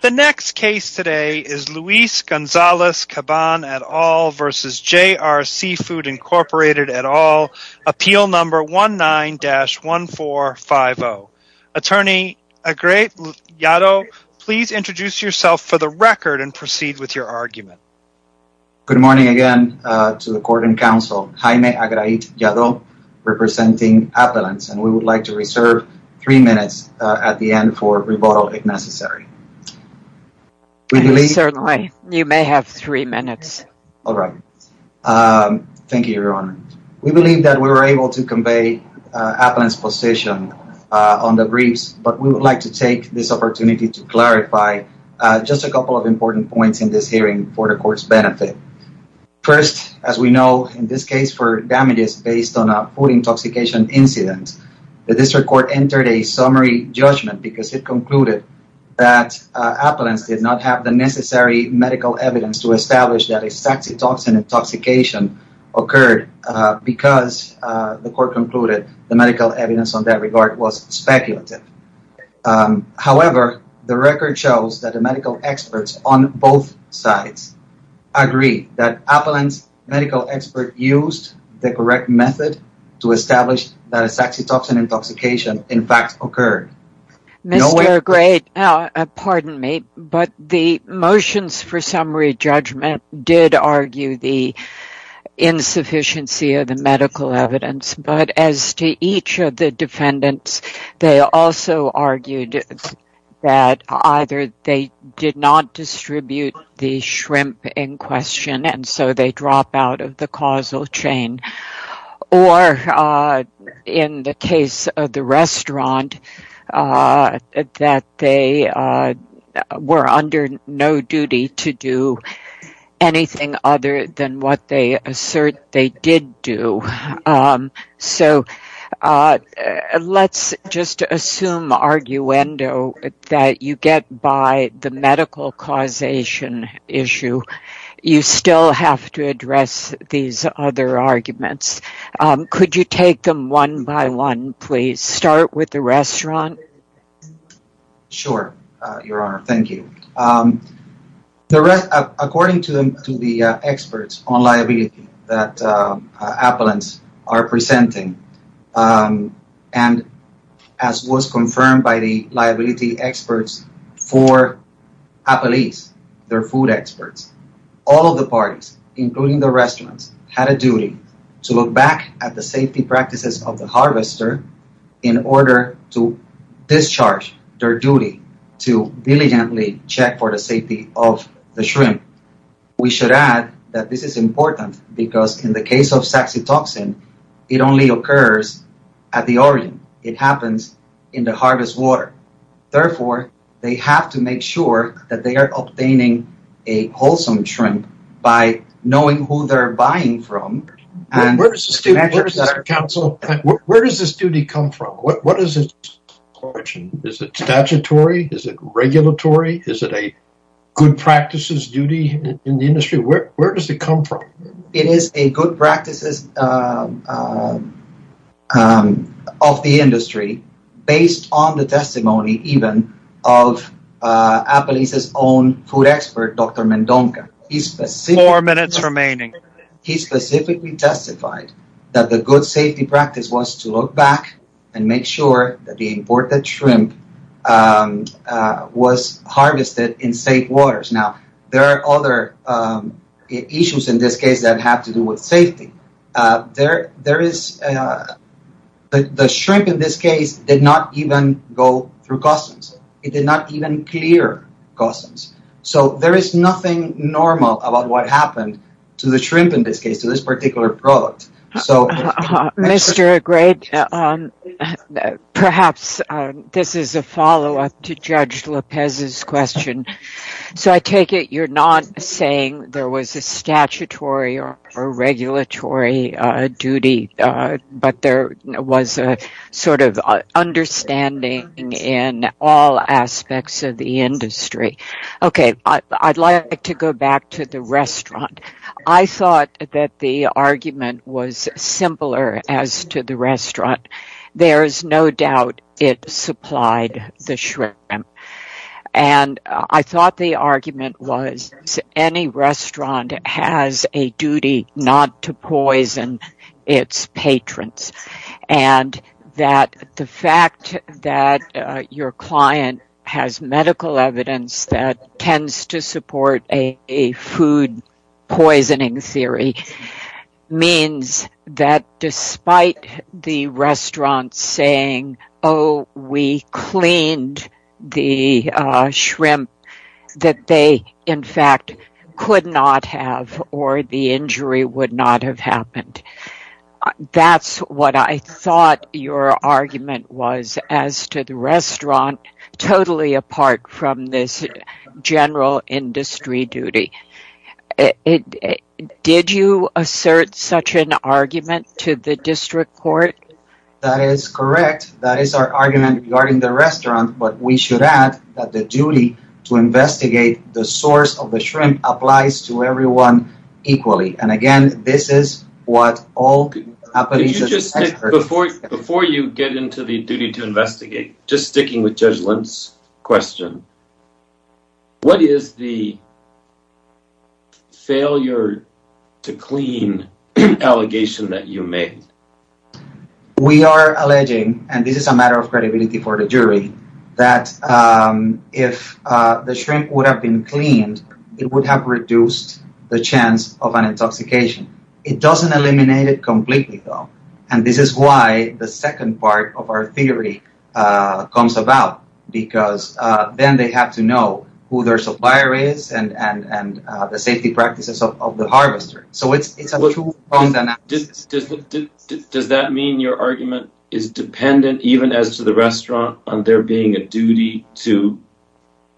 The next case today is Luis Gonzalez-Caban et al. v. JR Seafood Inc. et al. Appeal number 19-1450. Attorney Agra'it Yaddo, please introduce yourself for the record and proceed with your argument. Good morning again to the court and counsel. Jaime Agra'it Yaddo, representing Appellants, and we would like to reserve three minutes at the end for rebuttal if necessary. Certainly. You may have three minutes. All right. Thank you, Your Honor. We believe that we were able to convey Appellant's position on the briefs, but we would like to take this opportunity to clarify just a couple of important points in this hearing for the Court's benefit. First, as we know, in this case for damages based on a food intoxication incident, the District Court entered a summary judgment because it concluded that Appellants did not have the necessary medical evidence to establish that a saxitoxin intoxication occurred because the Court concluded the medical evidence on that regard was speculative. However, the record shows that the medical experts on both sides agree that Appellant's used the correct method to establish that a saxitoxin intoxication, in fact, occurred. Mr. Agra'it, pardon me, but the motions for summary judgment did argue the insufficiency of the medical evidence, but as to each of the defendants, they also argued that either they did not distribute the shrimp in question, and so they drop out of the causal chain, or in the case of the restaurant, that they were under no duty to do anything other than what they did do. So, let's just assume, arguendo, that you get by the medical causation issue. You still have to address these other arguments. Could you take them one by one, please? Start with the that Appellants are presenting, and as was confirmed by the liability experts for Appellees, their food experts, all of the parties, including the restaurants, had a duty to look back at the safety practices of the harvester in order to discharge their duty to diligently check for the in the case of saxitoxin, it only occurs at the origin. It happens in the harvest water. Therefore, they have to make sure that they are obtaining a wholesome shrimp by knowing who they're buying from. Where does this duty come from? Is it statutory? Is it regulatory? Is it a good practice of the industry, based on the testimony even of Appellees' own food expert, Dr. Mendonca? He specifically testified that the good safety practice was to look back and make sure that the with safety. The shrimp in this case did not even go through customs. It did not even clear customs. There is nothing normal about what happened to the shrimp in this case, to this particular product. Mr. Agrede, perhaps this is a follow-up to Judge Lopez's question. So I take it you're not saying there was a statutory or a regulatory duty, but there was a sort of understanding in all aspects of the industry. Okay, I'd like to go back to the restaurant. I thought that the argument was simpler as to the restaurant. There is no doubt it supplied the shrimp. I thought the argument was any restaurant has a duty not to poison its patrons. The fact that your client has medical evidence that tends to support a food we cleaned the shrimp that they in fact could not have or the injury would not have happened. That's what I thought your argument was as to the restaurant, totally apart from this general industry duty. Did you assert such an argument to the district court? That is correct. That is our argument regarding the restaurant, but we should add that the duty to investigate the source of the shrimp applies to everyone equally. And again, this is what all Before you get into the duty to investigate, just sticking with Judge Lemp's question, what is the failure to clean allegation that you made? We are alleging, and this is a matter of credibility for the jury, that if the shrimp would have been cleaned, it would have reduced the chance of an intoxication. It doesn't eliminate it completely though. And this is why the second part of our theory comes about, because then they have to know who their supplier is and the safety practices of the harvester. Does that mean your argument is dependent, even as to the restaurant, on there being a duty to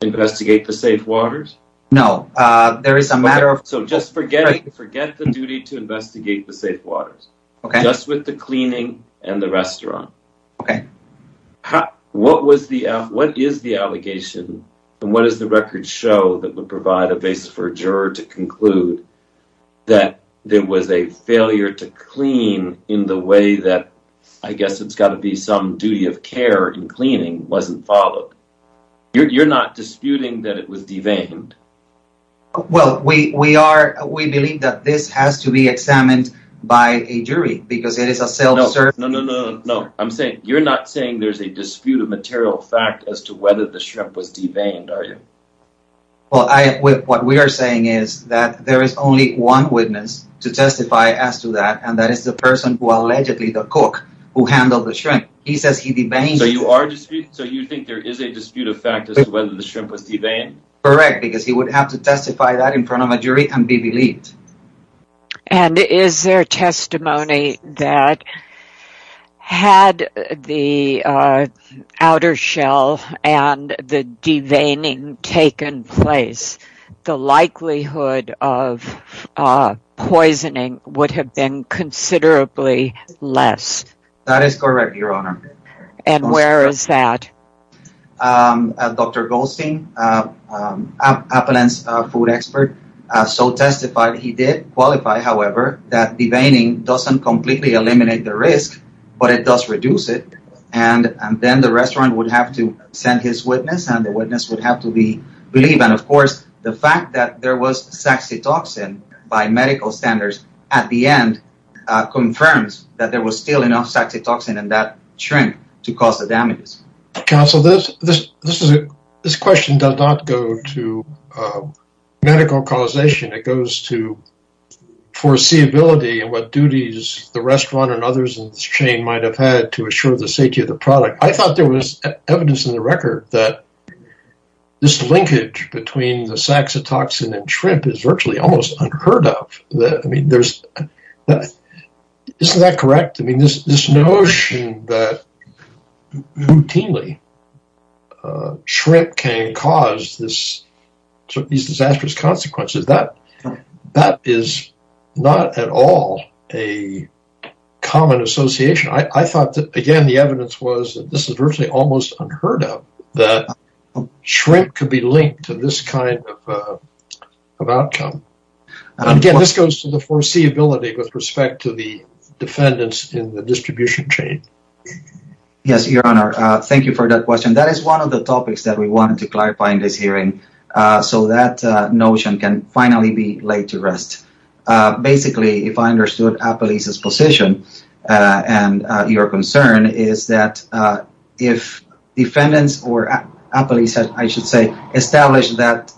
investigate the safe waters? No. So just forget the duty to investigate the safe waters. Just with the cleaning and the restaurant. Okay. What is the allegation and what does the record show that would provide a basis for a juror to conclude that there was a failure to clean in the way that, I guess it's got to be some duty of care in cleaning wasn't followed? You're not disputing that it was de-veined? Well, we believe that this has to be examined by a jury, because it is a self-serving... No, I'm saying you're not saying there's a dispute of material fact as to whether the shrimp was de-veined, are you? Well, what we are saying is that there is only one witness to testify as to that, and that is the person who allegedly the cook who handled the shrimp. He says he de-veined. So you think there is a dispute of fact as to whether the shrimp was de-veined? Correct, because he would have to testify that in front of a jury and be believed. And is there testimony that had the outer shell and the de-veining taken place, the likelihood of poisoning would have been considerably less? That is correct, Your Honor. And where is that? Dr. Goldstein, Appalachian food expert, so testified he did qualify, however, that de-veining doesn't completely eliminate the risk, but it does reduce it. And then the restaurant would have to send his witness and the witness would have to be believed. And of course, the fact that there was saxitoxin by medical standards at the end confirms that there was enough saxitoxin in that shrimp to cause the damage. Counsel, this question does not go to medical causation. It goes to foreseeability and what duties the restaurant and others in this chain might have had to assure the safety of the product. I thought there was evidence in the record that this linkage between the saxitoxin and this notion that routinely shrimp can cause these disastrous consequences, that is not at all a common association. I thought that, again, the evidence was that this is virtually almost unheard of that shrimp could be linked to this kind of outcome. And again, this goes to the distribution chain. Yes, Your Honor, thank you for that question. That is one of the topics that we wanted to clarify in this hearing so that notion can finally be laid to rest. Basically, if I understood Appalachian's position and your concern is that if defendants or Appalachians, I should say, established that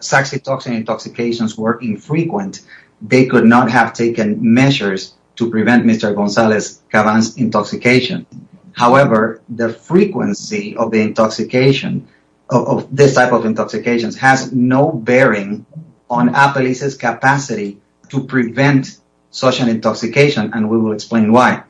saxitoxin intoxications were infrequent, they could not have taken measures to prevent Mr. Gonzalez-Caban's intoxication. However, the frequency of the intoxication of this type of intoxication has no bearing on Appalachian's capacity to prevent such an intoxication and we will explain why.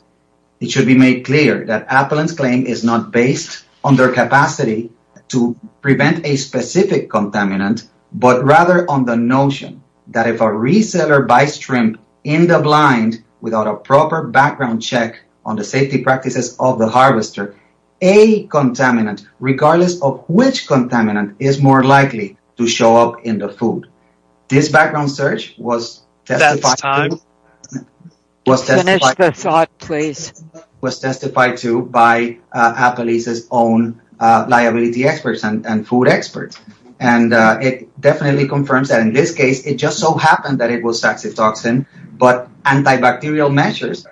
It should be made clear that Appalachian's claim is not based on their capacity to prevent a specific contaminant, but rather on the notion that if a reseller buys shrimp in the blind without a proper background check on the safety practices of the harvester, a contaminant, regardless of which contaminant, is more likely to show up in the food. This background search was testified to by Appalachian's own liability experts and food experts and it definitely confirms that in this case, it just so happened that it was saxitoxin, but antibacterial measures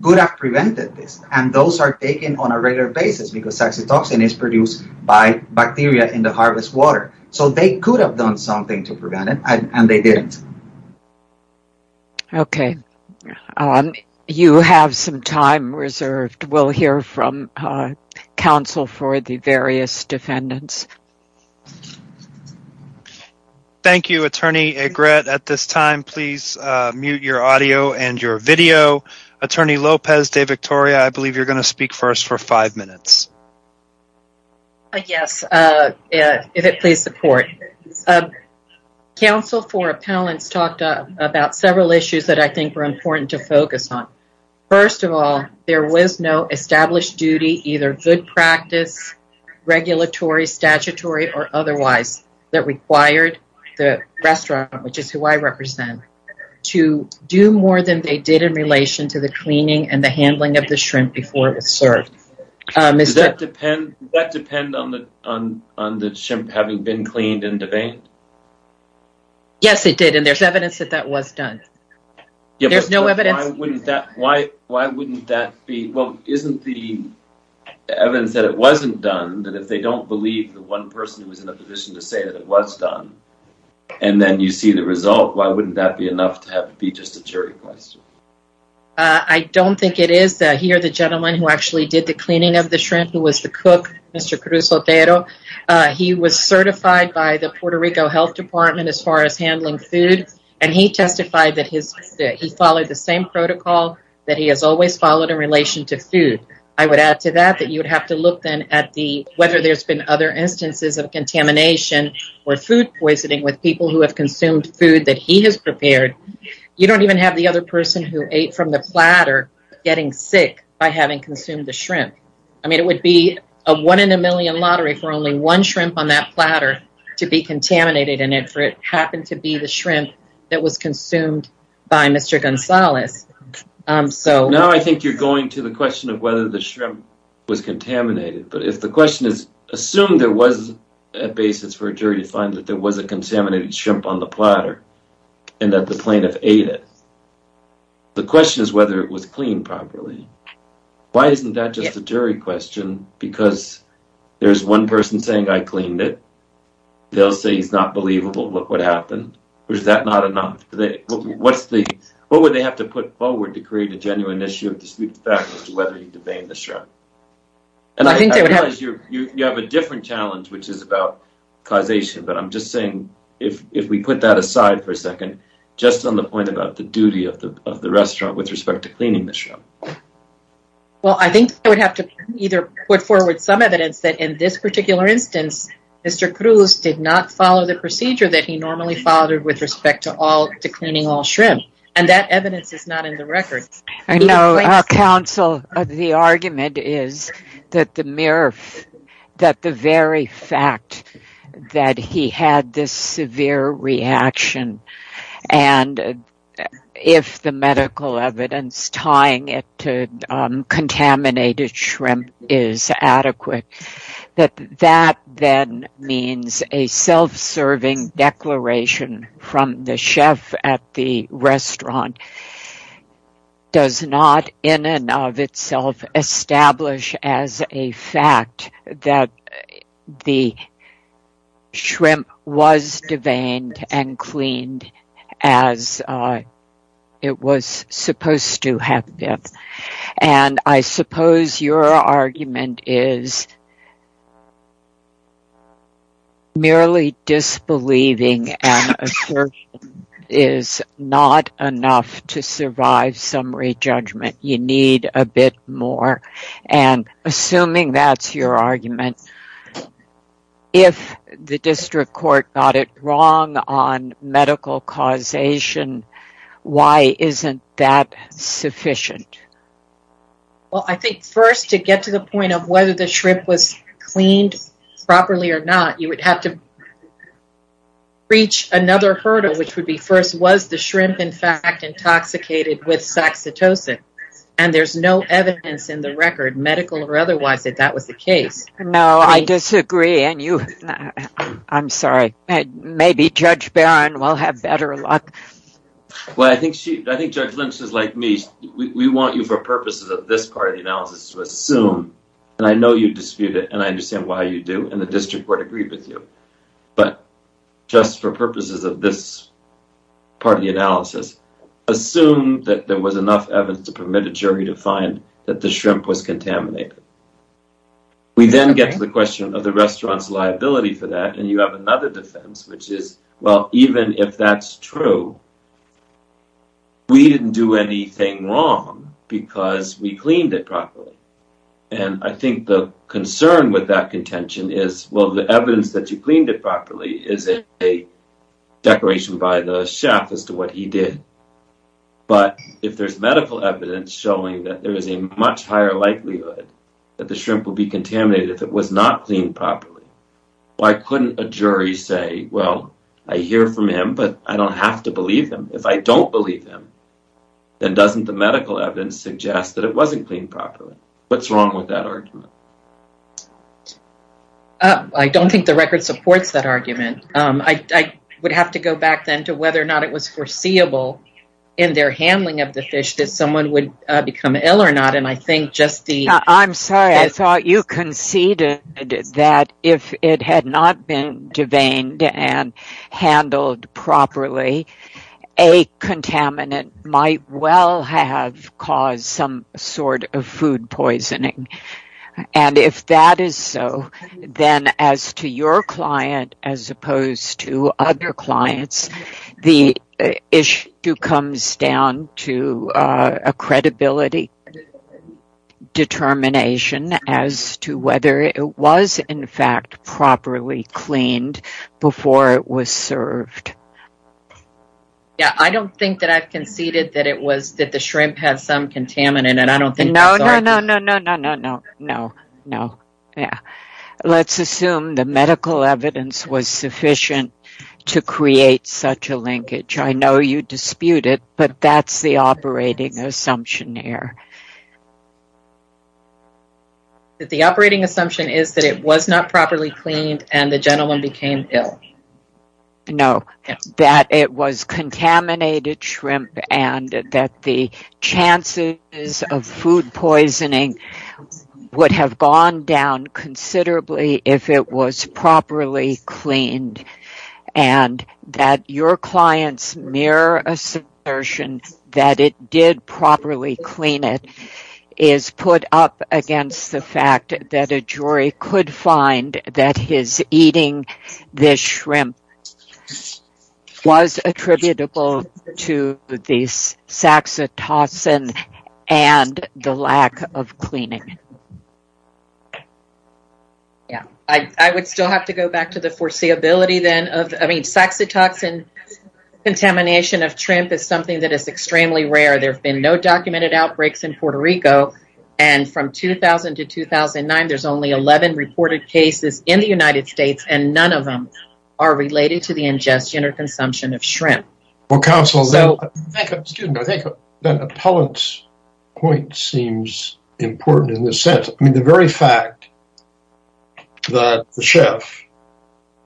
could have prevented this and those are taken on a regular basis because saxitoxin is produced by bacteria in the harvest water, so they could have done something to prevent it and they didn't. Okay, you have some time reserved. We'll hear from counsel for the various defendants. Thank you, Attorney Egrett. At this time, please mute your audio and your video. Attorney Lopez de Victoria, I believe you're going to speak first for five minutes. Yes, if it please the court. Counsel for appellants talked about several issues that I think were important to focus on. First of all, there was no established duty, either good practice, regulatory, statutory, or otherwise that required the restaurant, which is who I represent, to do more than they did in relation to the cleaning and the handling of the shrimp before it was served. Does that depend on the shrimp having been cleaned and deveined? Yes, it did and there's evidence that that was done. There's no evidence. Why wouldn't that be? Well, isn't the evidence that it wasn't done that if they don't believe the one person who was in a position to say that it was done and then you see the result, why wouldn't that be enough to have to be just a jury question? I don't think it is. Here, the gentleman who actually did the cleaning of the shrimp, who was the cook, Mr. Cruz-Otero, he was certified by the Puerto Rico Health Department as far as handling food and he testified that he followed the same protocol that he has always followed in relation to food. I would add to that that you would have to look then at whether there's been other instances of contamination or food poisoning with people who have consumed food that he has prepared. You don't even have the other person who ate from the platter getting sick by having consumed the shrimp. It would be a one in a million lottery for only one shrimp on that platter to be contaminated and it happened to be the shrimp that was consumed by Mr. Gonzalez. Now, I think you're going to the question of whether the shrimp was contaminated, but if the question is assumed there was a basis for a jury to find that there was a contaminated shrimp on platter and that the plaintiff ate it, the question is whether it was cleaned properly. Why isn't that just a jury question? Because there's one person saying, I cleaned it. They'll say he's not believable. Look what happened. Or is that not enough? What would they have to put forward to create a genuine issue of dispute of fact as to whether you debate the shrimp? And I think you have a different challenge, which is about causation, but I'm just saying if we put that aside for a second, just on the point about the duty of the restaurant with respect to cleaning the shrimp. Well, I think I would have to either put forward some evidence that in this particular instance, Mr. Cruz did not follow the procedure that he normally followed with respect to cleaning all shrimp. And that evidence is not in the record. I know, counsel, the argument is that the very fact that he had this severe reaction and if the medical evidence tying it to contaminated shrimp is adequate, that then means a self-serving declaration from the chef at the restaurant does not in and of itself establish as a fact that the shrimp was deveined and cleaned as it was supposed to have been. And I suppose your argument is merely disbelieving and assertion is not enough to survive summary judgment. You need a bit more. And assuming that's your argument, if the district court got it wrong on medical causation, why isn't that sufficient? Well, I think first to get to the point of whether the shrimp was cleaned properly or not, you would have to reach another hurdle, which would be first, was the shrimp in fact intoxicated with saxitocin? And there's no evidence in the record, medical or otherwise, that that was the case. No, I disagree. And you, I'm sorry, maybe Judge Barron will have better luck. Well, I think she, I think Judge Lynch is like me. We want you for purposes of this part of the analysis to assume, and I know you dispute it and I understand why you do and the district court agreed with you, but just for purposes of this part of the analysis, assume that there was enough evidence to permit a jury to find that the shrimp was contaminated. We then get to the question of the restaurant's liability for that and you have another defense, which is, well, even if that's true, we didn't do anything wrong because we cleaned it properly. And I think the concern with that contention is, well, the evidence that you cleaned it properly is a declaration by the chef as to what he did. But if there's medical evidence showing that there is a much higher likelihood that the shrimp will be contaminated if it was not cleaned properly, why couldn't a jury say, well, I hear from him, but I don't have to believe him. If I don't believe him, then doesn't the medical evidence suggest that it wasn't cleaned properly? What's wrong with that argument? I don't think the record supports that argument. I would have to go back then to whether or not it was foreseeable in their handling of the fish that someone would become ill or not. And I think just the... if it had not been deveined and handled properly, a contaminant might well have caused some sort of food poisoning. And if that is so, then as to your client, as opposed to other clients, the issue comes down to a credibility determination as to whether it was, in fact, properly cleaned before it was served. Yeah, I don't think that I've conceded that it was that the shrimp has some contaminant. And I don't think... No, no, no, no, no, no, no, no, no, no. Yeah. Let's assume the medical evidence was sufficient to create such a linkage. I know you dispute it, but that's the operating assumption here. The operating assumption is that it was not properly cleaned and the gentleman became ill. No, that it was contaminated shrimp and that the chances of food poisoning would have gone down considerably if it was properly cleaned. And that your client's mere assertion that it did properly clean it is put up against the fact that a jury could find that his eating the shrimp was attributable to the saxitoxin and the lack of cleaning. Yeah, I would still have to go back to the foreseeability then of... I mean, saxitoxin contamination of shrimp is something that is extremely rare. There have been no reported cases in the United States and none of them are related to the ingestion or consumption of shrimp. Well, counsel, I think that Appellant's point seems important in this sense. I mean, the very fact that the chef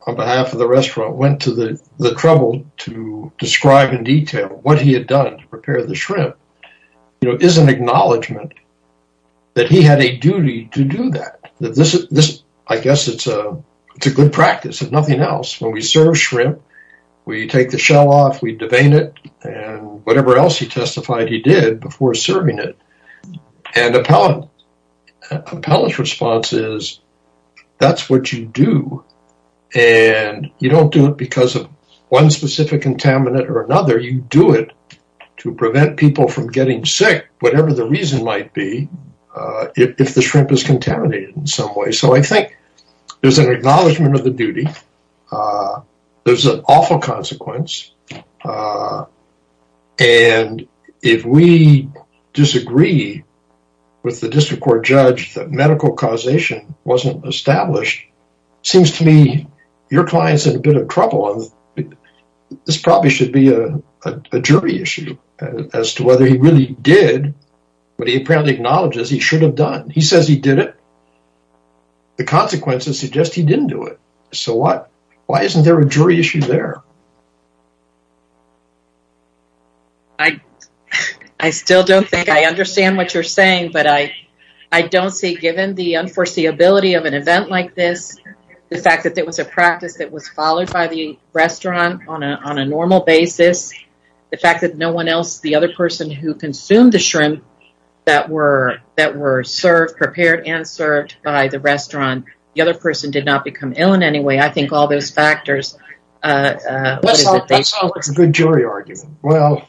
on behalf of the restaurant went to the trouble to describe in detail what he had done to prepare the shrimp, you know, is an acknowledgement that he had a I guess it's a good practice, if nothing else. When we serve shrimp, we take the shell off, we devein it and whatever else he testified he did before serving it. And Appellant's response is that's what you do and you don't do it because of one specific contaminant or another. You do it to prevent people from getting sick, whatever the reason might be, if the shrimp is contaminated in some way. So I think there's an acknowledgement of the duty. There's an awful consequence. And if we disagree with the district court judge that medical causation wasn't established, seems to me your client's in a bit of trouble. This probably should be a jury issue as to whether he really did what he apparently acknowledges he should have done. He says he did it. The consequences suggest he didn't do it. So why isn't there a jury issue there? I still don't think I understand what you're saying, but I don't see, given the unforeseeability of an event like this, the fact that there was a practice that was followed by the restaurant on a normal basis, the fact that no one else, the other person who consumed the shrimp that were served, prepared and served by the restaurant, the other person did not become ill in any way. I think all those factors. That sounds like a good jury argument. Well,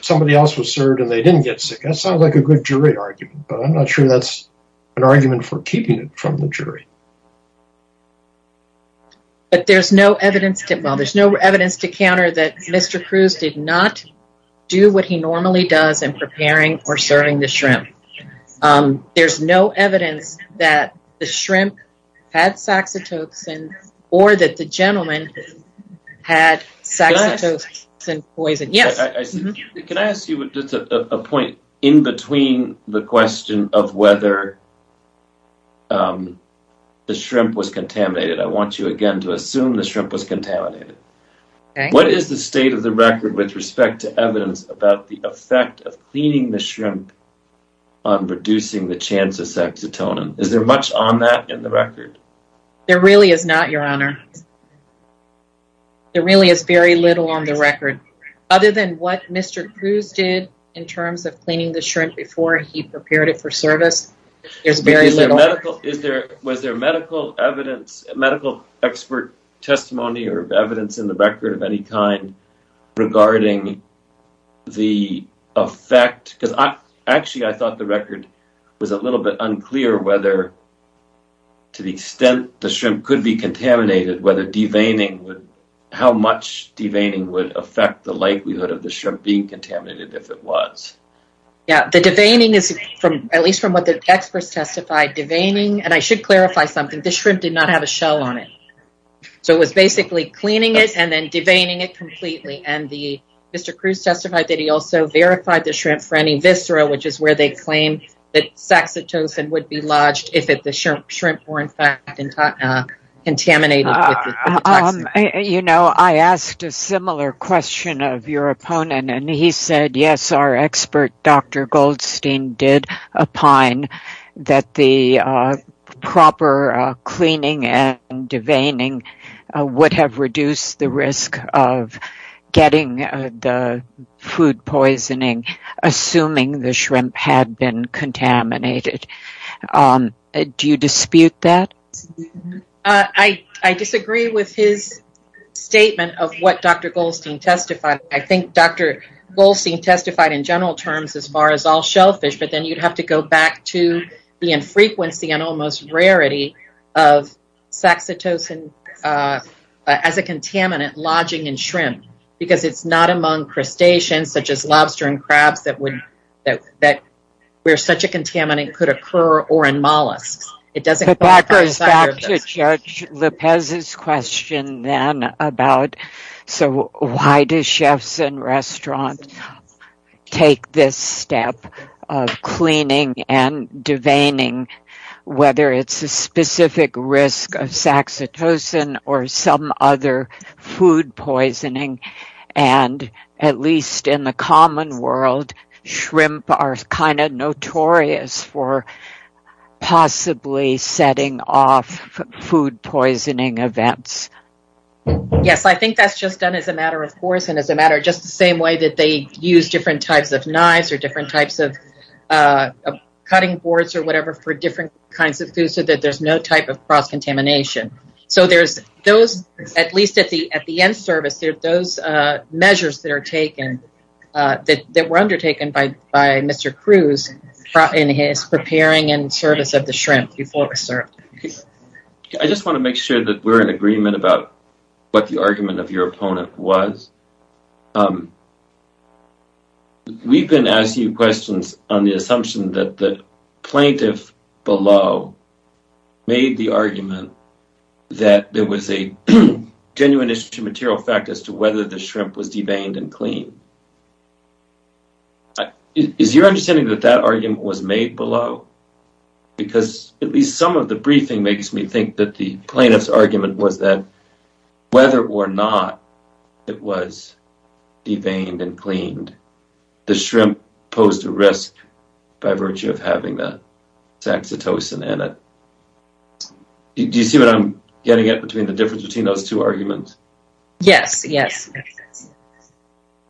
somebody else was served and they didn't get sick. That sounds like a good jury argument, but I'm not sure that's an argument for keeping it from the jury. But there's no evidence to counter that Mr. Cruz did not do what he normally does in serving the shrimp. There's no evidence that the shrimp had saxitoxin or that the gentleman had saxitoxin poison. Can I ask you a point in between the question of whether the shrimp was contaminated? I want you again to assume the shrimp was contaminated. What is the state of the record with respect to evidence about the effect of cleaning the shrimp on reducing the chance of saxitonin? Is there much on that in the record? There really is not, your honor. There really is very little on the record, other than what Mr. Cruz did in terms of cleaning the shrimp before he prepared it for service. There's very little. Was there medical expert testimony or evidence in the record of any kind regarding the effect? Because actually, I thought the record was a little bit unclear whether, to the extent the shrimp could be contaminated, how much deveining would affect the likelihood of the shrimp being contaminated if it was? Yeah, the deveining is, at least from what the experts testified, deveining, and I should clarify something, the shrimp did not have a shell on it. It was basically cleaning it and then deveining it completely. Mr. Cruz testified that he also verified the shrimp for any viscera, which is where they claim that saxitoxin would be lodged if the shrimp were in fact contaminated. You know, I asked a similar question of your opponent, and he said, yes, our expert Dr. Goldstein did opine that the proper cleaning and deveining would have reduced the risk of getting the food poisoning, assuming the shrimp had been contaminated. Do you dispute that? I disagree with his statement of what Dr. Goldstein testified. I think Dr. Goldstein testified in general terms as far as all shellfish, but then you'd have to go back to the infrequency and almost rarity of saxitoxin as a contaminant lodging in shrimp, because it's not among crustaceans such as lobster and crabs where such a contaminant could occur or in mollusks. It doesn't go back to this. That goes back to Judge Lopez's question then about, so why do chefs and restaurants take this step of cleaning and deveining, whether it's a specific risk of saxitoxin or some other food poisoning, and at least in the common world, shrimp are notorious for possibly setting off food poisoning events? Yes, I think that's just done as a matter of course and as a matter of just the same way that they use different types of knives or different types of cutting boards or whatever for different kinds of food so that there's no type of cross contamination. So there's those, at least at the end service, there are those measures that are undertaken by Mr. Cruz in his preparing and service of the shrimp before we serve. I just want to make sure that we're in agreement about what the argument of your opponent was. We've been asking you questions on the assumption that the plaintiff below made the argument that there was a genuine issue material fact as to whether the shrimp was deveined and cleaned. Is your understanding that that argument was made below? Because at least some of the briefing makes me think that the plaintiff's argument was that whether or not it was deveined and cleaned, the shrimp posed a risk by virtue of having the saxitoxin in it. Do you see what I'm getting at between the difference between those two arguments? Yes, yes.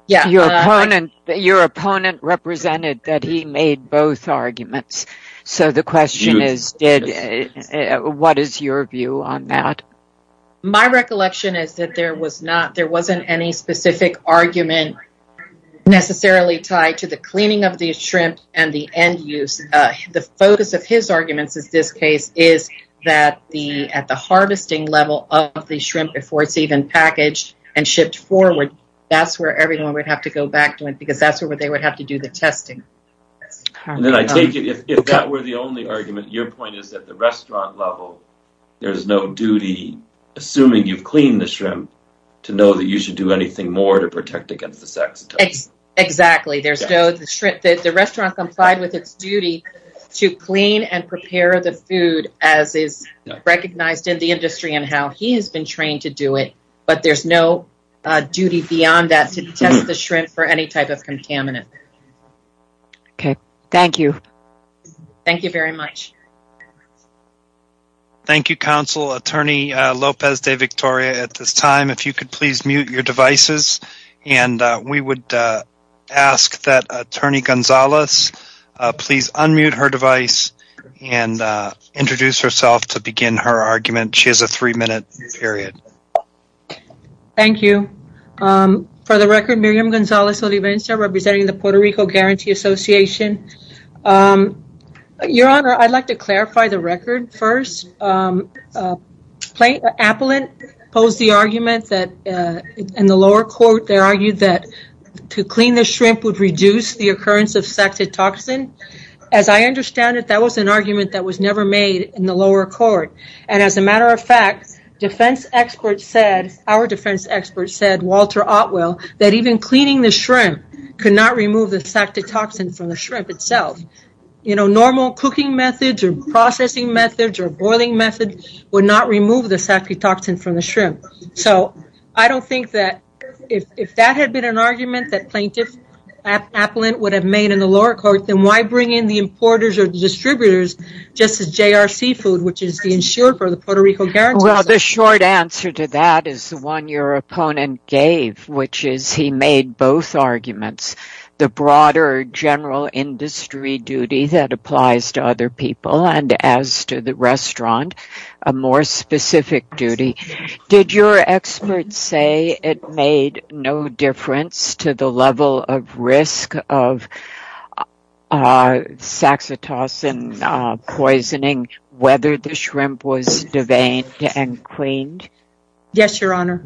Yes. Your opponent represented that he made both arguments. So the question is, what is your view on that? My recollection is that there wasn't any specific argument necessarily tied to the cleaning of the shrimp and the end use. The focus of his arguments in this case is that at the harvesting level of the shrimp before it's even packaged and shipped forward, that's where everyone would have to go back to it because that's where they would have to do the testing. If that were the only argument, your point is that at the restaurant level, there's no duty, assuming you've cleaned the shrimp, to know that you should do anything more to protect against the saxitoxin. Exactly. The restaurant complied with its duty to clean and prepare the food as is recognized in the industry and how he has been trained to do it, but there's no duty beyond that to test the shrimp for any type of contaminant. Okay. Thank you. Thank you very much. Thank you, Counsel. Attorney Lopez de Victoria, at this time, if you could please mute your devices and we would ask that Attorney Gonzalez please unmute her device and introduce herself to begin her argument. She has a three-minute period. Thank you. For the record, Miriam Gonzalez-Olivenza representing the Puerto Rico Guarantee Association. Your Honor, I'd like to clarify the record first. Appellant posed the argument that in the lower court, they argued that to clean the shrimp would reduce the occurrence of saxitoxin. As I understand it, that was an argument that was never made in the lower court, and as a matter of fact, defense experts said, our defense experts said, Walter Otwell, that even cleaning the shrimp could not remove the saxitoxin from the shrimp itself. Normal cooking methods or processing methods or boiling methods would not remove the saxitoxin from the shrimp. I don't think that if that had been an argument that Plaintiff Appellant would have made in the lower court, then why bring in the importers or distributors just as JRC Food, which is the insured for the Puerto Rico Guarantee Association? Well, the short answer to that is the one your opponent gave, which is he made both arguments. The broader general industry duty that applies to other people and as to the restaurant, a more specific duty. Did your experts say it made no difference to the level of risk of saxitoxin poisoning, whether the shrimp was deveined and cleaned? Yes, your honor.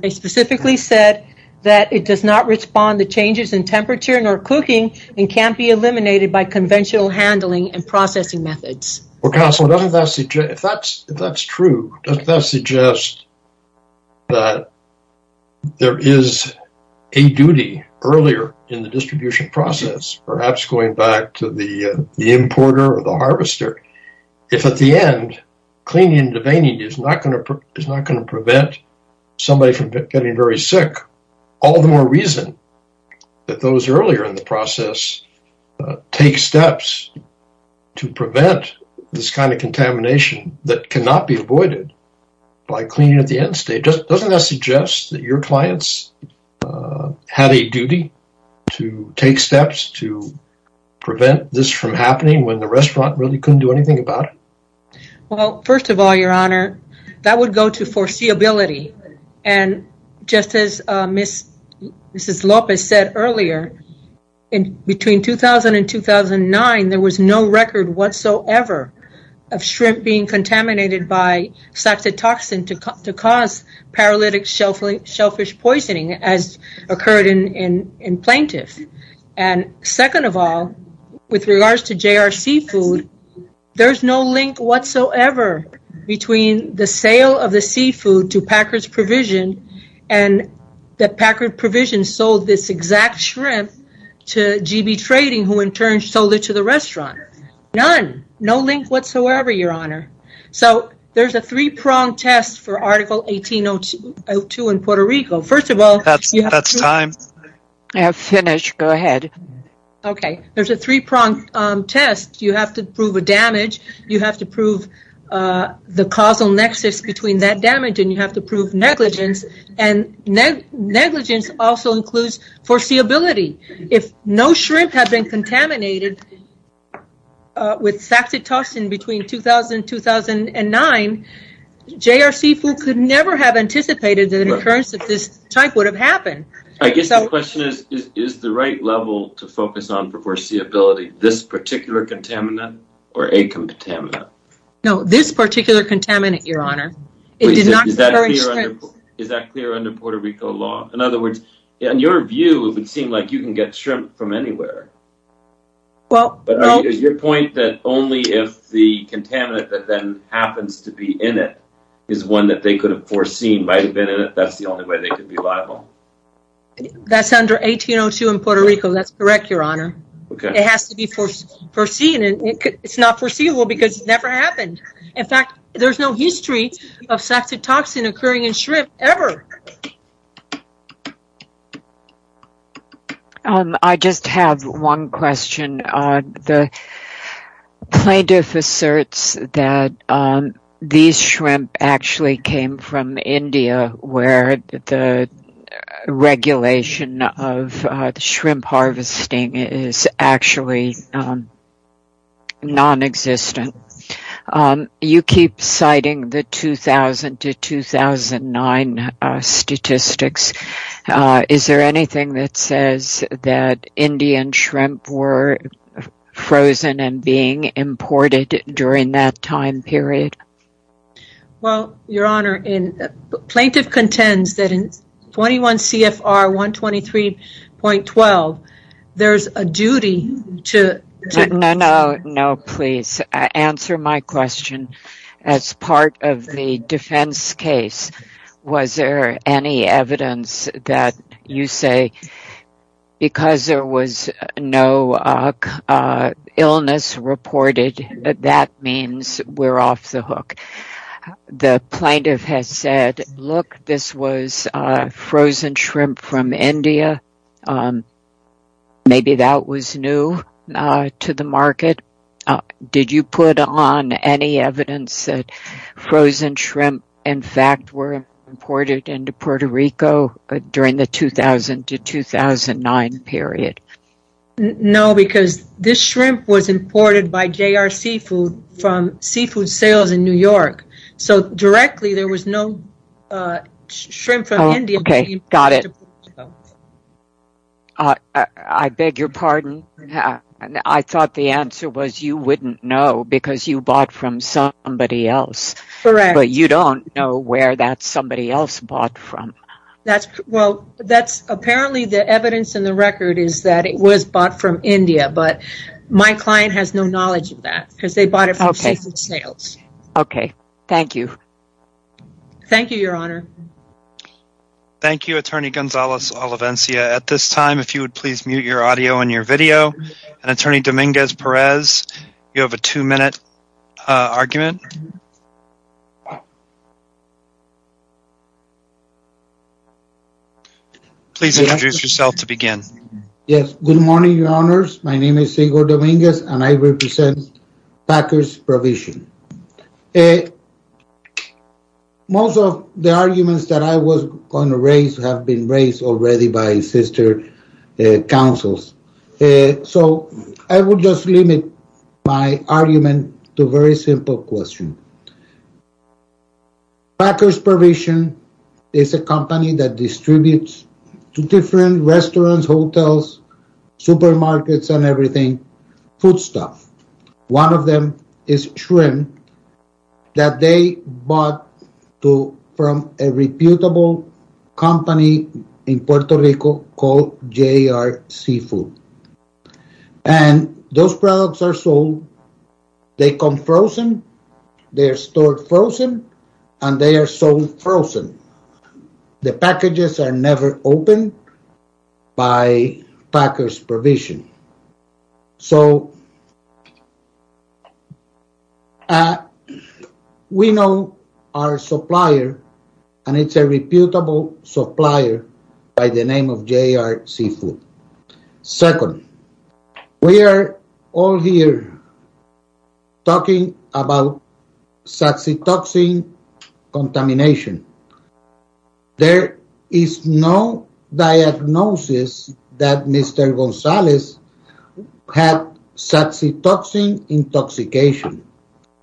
They specifically said that it does not respond to changes in temperature nor cooking and can't be eliminated by conventional handling and processing methods. Well, counsel, doesn't that if that's true, doesn't that suggest that there is a duty earlier in the distribution process, perhaps going back to the importer or the harvester. If at the end, cleaning and deveining is not going to prevent somebody from getting very sick, all the more reason that those earlier in the process take steps to prevent this kind of contamination that cannot be avoided by cleaning at the end state. Doesn't that suggest that your clients had a duty to take steps to prevent this from happening when the restaurant really couldn't do anything about it? Well, first of all, your honor, that would go to foreseeability. And just as Mrs. Lopez said earlier, between 2000 and 2009, there was no record whatsoever of shrimp being contaminated by saxitoxin to cause paralytic shellfish poisoning as occurred in plaintiff. And second of all, with regards to JRC food, there's no link whatsoever between the sale of the seafood to Packard's provision and that Packard's provision sold this exact shrimp to GB Trading, who in turn sold it to the restaurant. None, no link whatsoever, your honor. So there's a three-pronged test for Article 1802 in Puerto Rico. First of all- That's time. I have finished. Go ahead. Okay. There's a three-pronged test. You have to prove a damage. You have to prove the causal nexus between that damage and you have to prove negligence. And negligence also includes foreseeability. If no shrimp had been contaminated with saxitoxin between 2000 and 2009, JRC food could never have anticipated that an occurrence of this type would have happened. I guess the question is, is the right level to focus on for foreseeability, this particular contaminant or a contaminant? No, this particular contaminant, your honor. Is that clear under Puerto Rico law? In other words, in your view, it would seem like you can get shrimp from anywhere. But is your point that only if the contaminant that then happens to be in it is one that they could have foreseen might have been in it, that's the only way they could be liable? That's under 1802 in Puerto Rico. That's correct, your honor. It has to be foreseen. It's not foreseeable because it never happened. In fact, there's no history of saxitoxin occurring in shrimp ever. I just have one question. The plaintiff asserts that these shrimp actually came from non-existent. You keep citing the 2000 to 2009 statistics. Is there anything that says that Indian shrimp were frozen and being imported during that time period? Well, your honor, the plaintiff contends that in 21 CFR 123.12, there's a duty to- No, please answer my question. As part of the defense case, was there any evidence that you say because there was no illness reported, that means we're off the hook? The plaintiff has said, look, this was frozen shrimp from India. Maybe that was new to the market. Did you put on any evidence that frozen shrimp, in fact, were imported into Puerto Rico during the 2000 to 2009 period? No, because this shrimp was imported by JRC Food from seafood sales in New York. Directly, there was no shrimp from India. Okay, got it. I beg your pardon. I thought the answer was you wouldn't know because you bought from somebody else, but you don't know where that somebody else bought from. Apparently, the evidence in the record is that it was bought from India, but my client has no knowledge of that because they bought it from seafood sales. Okay, thank you. Thank you, your honor. Thank you, attorney Gonzalez-Olivencia. At this time, if you would please mute your audio and your video. Attorney Dominguez-Perez, you have a two-minute argument. Please introduce yourself to begin. Yes, good morning, your honors. My name is Igor Dominguez, and I represent Packers Provision. Most of the arguments that I was going to raise have been raised already by sister councils, so I will just limit my argument to a very simple question. Packers Provision is a company that distributes to different restaurants, hotels, supermarkets, and everything foodstuff. One of them is shrimp that they bought from a reputable company in Puerto Rico called JRC Food, and those products are sold. They come frozen, they are stored frozen, and they are sold frozen. The packages are never opened by Packers Provision. So, we know our supplier, and it's a reputable supplier by the name of JRC Food. Second, we are all here talking about saxitoxin contamination. There is no diagnosis that Mr. Gonzalez had saxitoxin intoxication.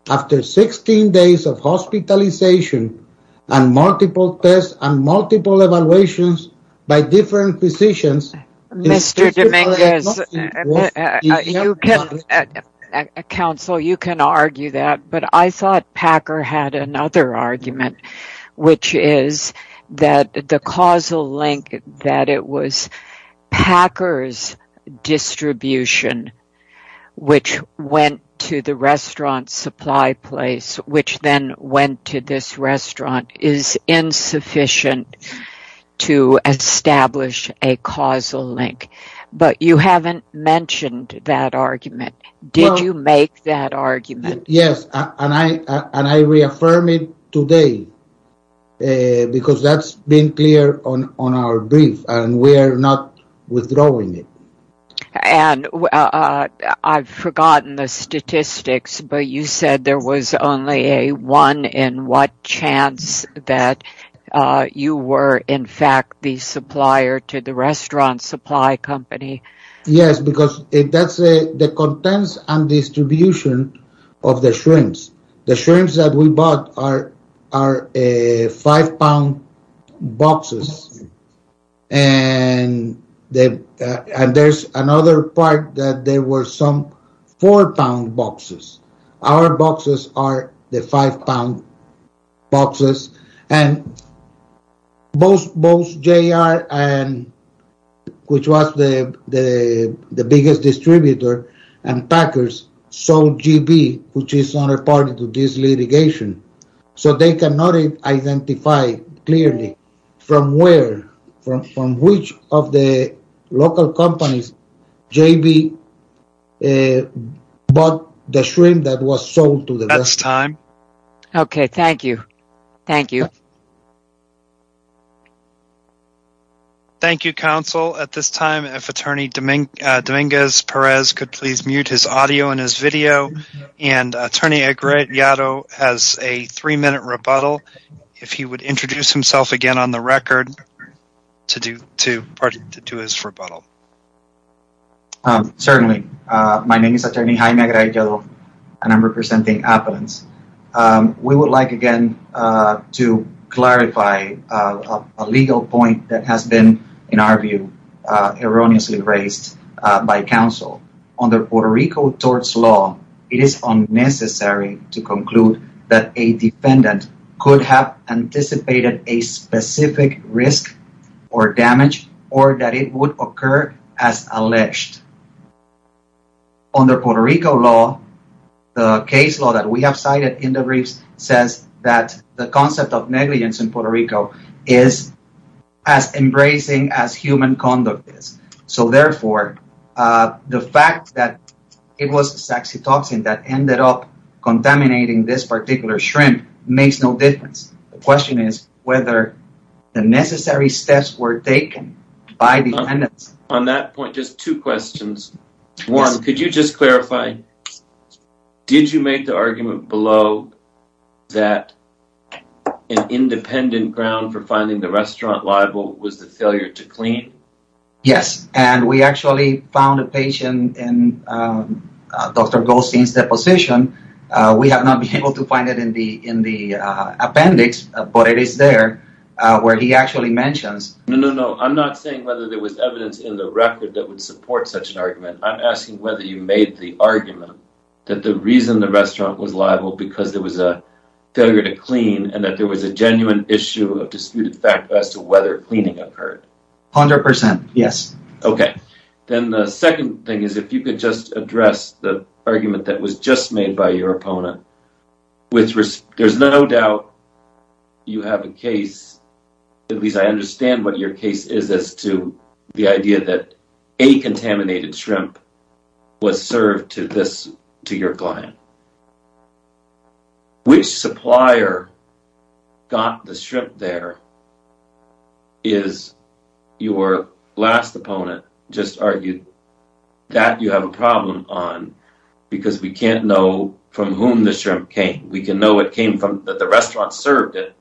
After 16 days of hospitalization and multiple tests and multiple evaluations by different physicians... Mr. Dominguez, counsel, you can argue that, but I thought Packer had another argument, which is that the causal link that it was Packers Distribution, which went to the restaurant supply place, which then went to this restaurant, is insufficient to establish a causal link. But, you haven't mentioned that argument. Did you make that argument? Yes, and I reaffirm it today, because that's been clear on our brief, and we're not withdrawing it. I've forgotten the statistics, but you said there was only a one in what chance that you were, in fact, the supplier to the restaurant supply company. Yes, because that's the contents and distribution of the shrimps. The shrimps that we bought are five pound boxes, and there's another part that there were some four-pound boxes. Our boxes are the five-pound boxes, and both JR, which was the biggest distributor, and Packers sold GB, which is another part of this litigation. So, they cannot identify clearly from where, from which of the local companies, JB bought the shrimp that was sold to them. That's time. Okay, thank you. Thank you. Thank you, counsel. At this time, if Attorney Dominguez-Perez could please mute his audio and his video, and Attorney Agrediado has a three-minute rebuttal, if he would introduce himself again on the record to do his rebuttal. Certainly. My name is Attorney Jaime Agrediado, and I'm representing Appalens. We would like, again, to clarify a legal point that has been, in our view, erroneously raised by counsel. Under Puerto Rico tort law, it is unnecessary to conclude that a defendant could have anticipated a specific risk or damage or that it would occur as alleged. Under Puerto Rico law, the case law that we have cited in the briefs says that the concept of negligence in Puerto Rico is as embracing as human conduct is. So, therefore, the fact that it was a toxin that ended up contaminating this particular shrimp makes no difference. The question is whether the necessary steps were taken by the defendants. On that point, just two questions. One, could you just clarify, did you make the argument below that an independent ground for finding the restaurant liable was the failure to clean? Yes, and we actually found a patient in Dr. Goldstein's deposition. We have not been able to find it in the appendix, but it is there where he actually mentions. No, no, no, I'm not saying whether there was evidence in the record that would the argument that the reason the restaurant was liable was because there was a failure to clean and that there was a genuine issue of disputed fact as to whether cleaning occurred. 100 percent, yes. Okay, then the second thing is if you could just address the argument that was just made by your opponent. There's no doubt you have a case, at least I understand what your case is as to the idea that a contaminated shrimp was served to your client. Which supplier got the shrimp there is your last opponent just argued that you have a problem on because we can't know from whom the shrimp came. We can know it came from that the restaurant served it,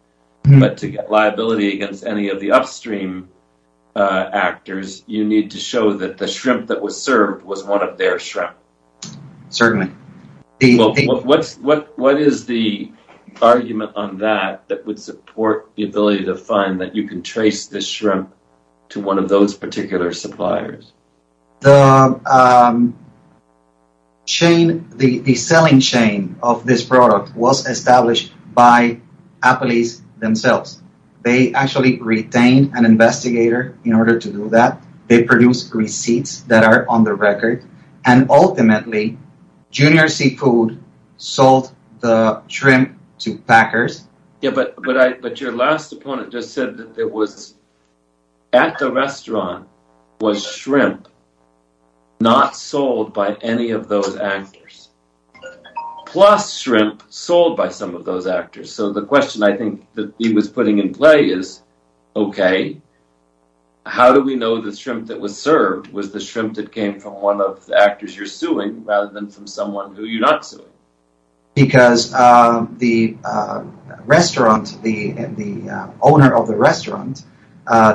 but to get liability against any of the upstream actors, you need to show that the shrimp that was served was one of their shrimp. Certainly. What is the argument on that that would support the ability to find that you can trace this shrimp to one of those particular suppliers? The selling chain of this product was retained an investigator in order to do that. They produced receipts that are on the record and ultimately Junior Seafood sold the shrimp to Packers. But your last opponent just said that it was at the restaurant was shrimp not sold by any of those actors plus shrimp sold by some of those actors. How do we know the shrimp that was served was the shrimp that came from one of the actors you're suing rather than from someone who you're not suing? Because the owner of the restaurant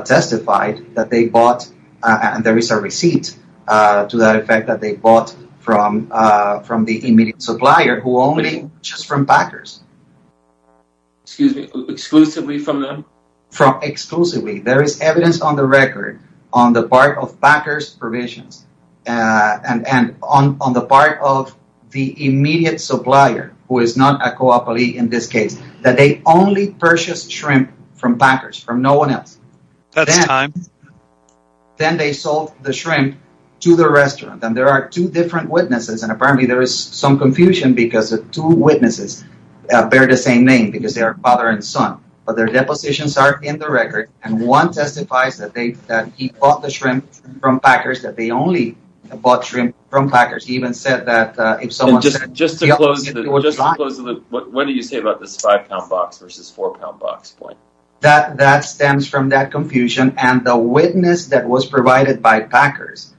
testified that they bought and there is a receipt to that effect that they bought from the immediate Packers. There is evidence on the record on the part of Packers provisions and on the part of the immediate supplier who is not a cooperative in this case that they only purchased shrimp from Packers from no one else. Then they sold the shrimp to the restaurant and there are two because the two witnesses bear the same name because they are father and son but their depositions are in the record and one testifies that they that he bought the shrimp from Packers that they only bought shrimp from Packers. He even said that if someone just just to close what do you say about this five pound box versus four pound box point that that stems from that confusion and the witness that was provided by Packers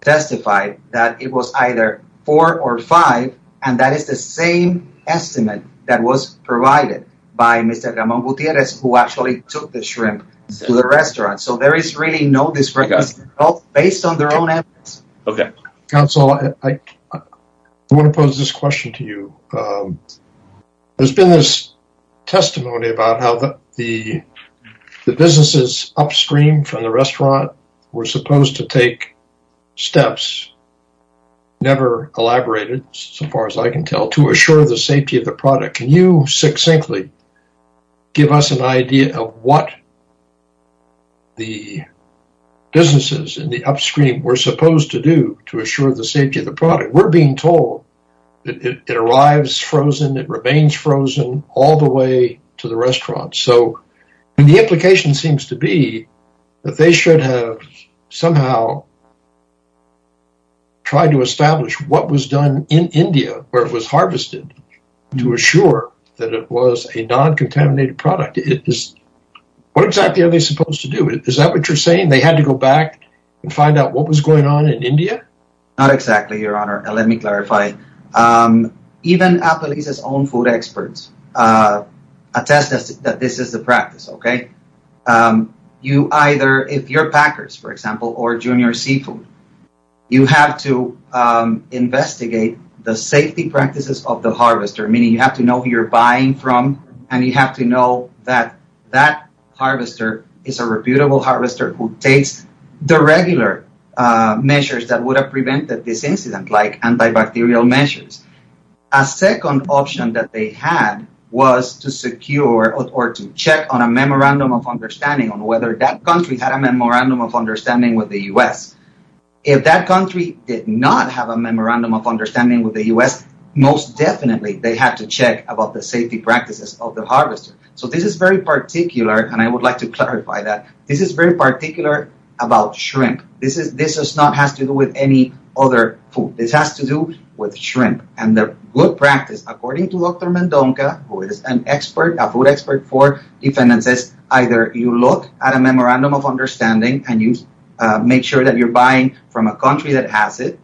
testified that it was either four or five and that is the same estimate that was provided by Mr. Ramon Gutierrez who actually took the shrimp to the restaurant. So there is really no discrimination based on their own evidence. Okay counsel I want to pose this question to you. There's been this testimony about how the the businesses upstream from the restaurant were supposed to take steps never elaborated so far as I can tell to assure the safety of the product. Can you succinctly give us an idea of what the businesses in the upstream were supposed to do to assure the safety of the product? We're being told that it arrives frozen it remains frozen all the way to the restaurant. So the implication seems to be that they should have somehow tried to establish what was done in India where it was harvested to assure that it was a non-contaminated product. What exactly are they supposed to do? Is that what you're saying they had to go back and find out what was going on in India? Not exactly your honor and let me clarify. Even Apaliza's own food experts uh attest that this is the practice okay. You either if you're Packers for example or junior seafood you have to investigate the safety practices of the harvester meaning you have to know who you're buying from and you have to know that that harvester is a reputable harvester who takes the regular measures that would have prevented this incident like antibacterial measures. A second option that they had was to secure or to check on a memorandum of understanding on whether that country had a memorandum of understanding with the U.S. If that country did not have a memorandum of understanding with the U.S. most definitely they had to check about the safety practices of the harvester. So this is very particular and I would like to clarify that this is very particular about shrimp this is this is not has to do with any other food this has to with shrimp and the good practice according to Dr. Mendonca who is an expert a food expert for defendants is either you look at a memorandum of understanding and you make sure that you're buying from a country that has it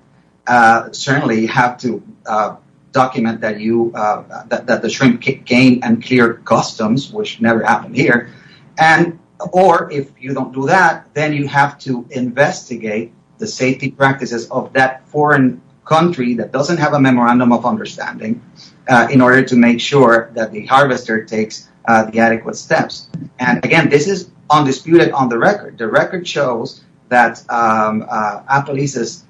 uh certainly you have to uh document that you uh that the shrimp gain and clear customs which never happened here and or if you don't do that then you have to that doesn't have a memorandum of understanding uh in order to make sure that the harvester takes uh the adequate steps and again this is undisputed on the record the record shows that um uh Apalis'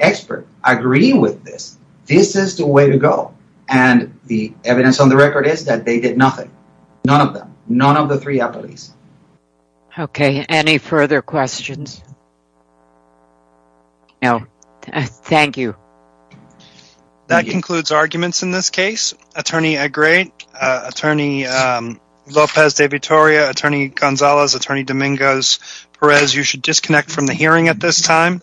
expert agreeing with this this is the way to go and the evidence on the record is that they did nothing none of them none of the three Apalis. Okay any further questions? No thank you. That concludes arguments in this case attorney a great uh attorney um Lopez de Vitoria, attorney Gonzalez, attorney Domingos Perez you should disconnect from the hearing at this time.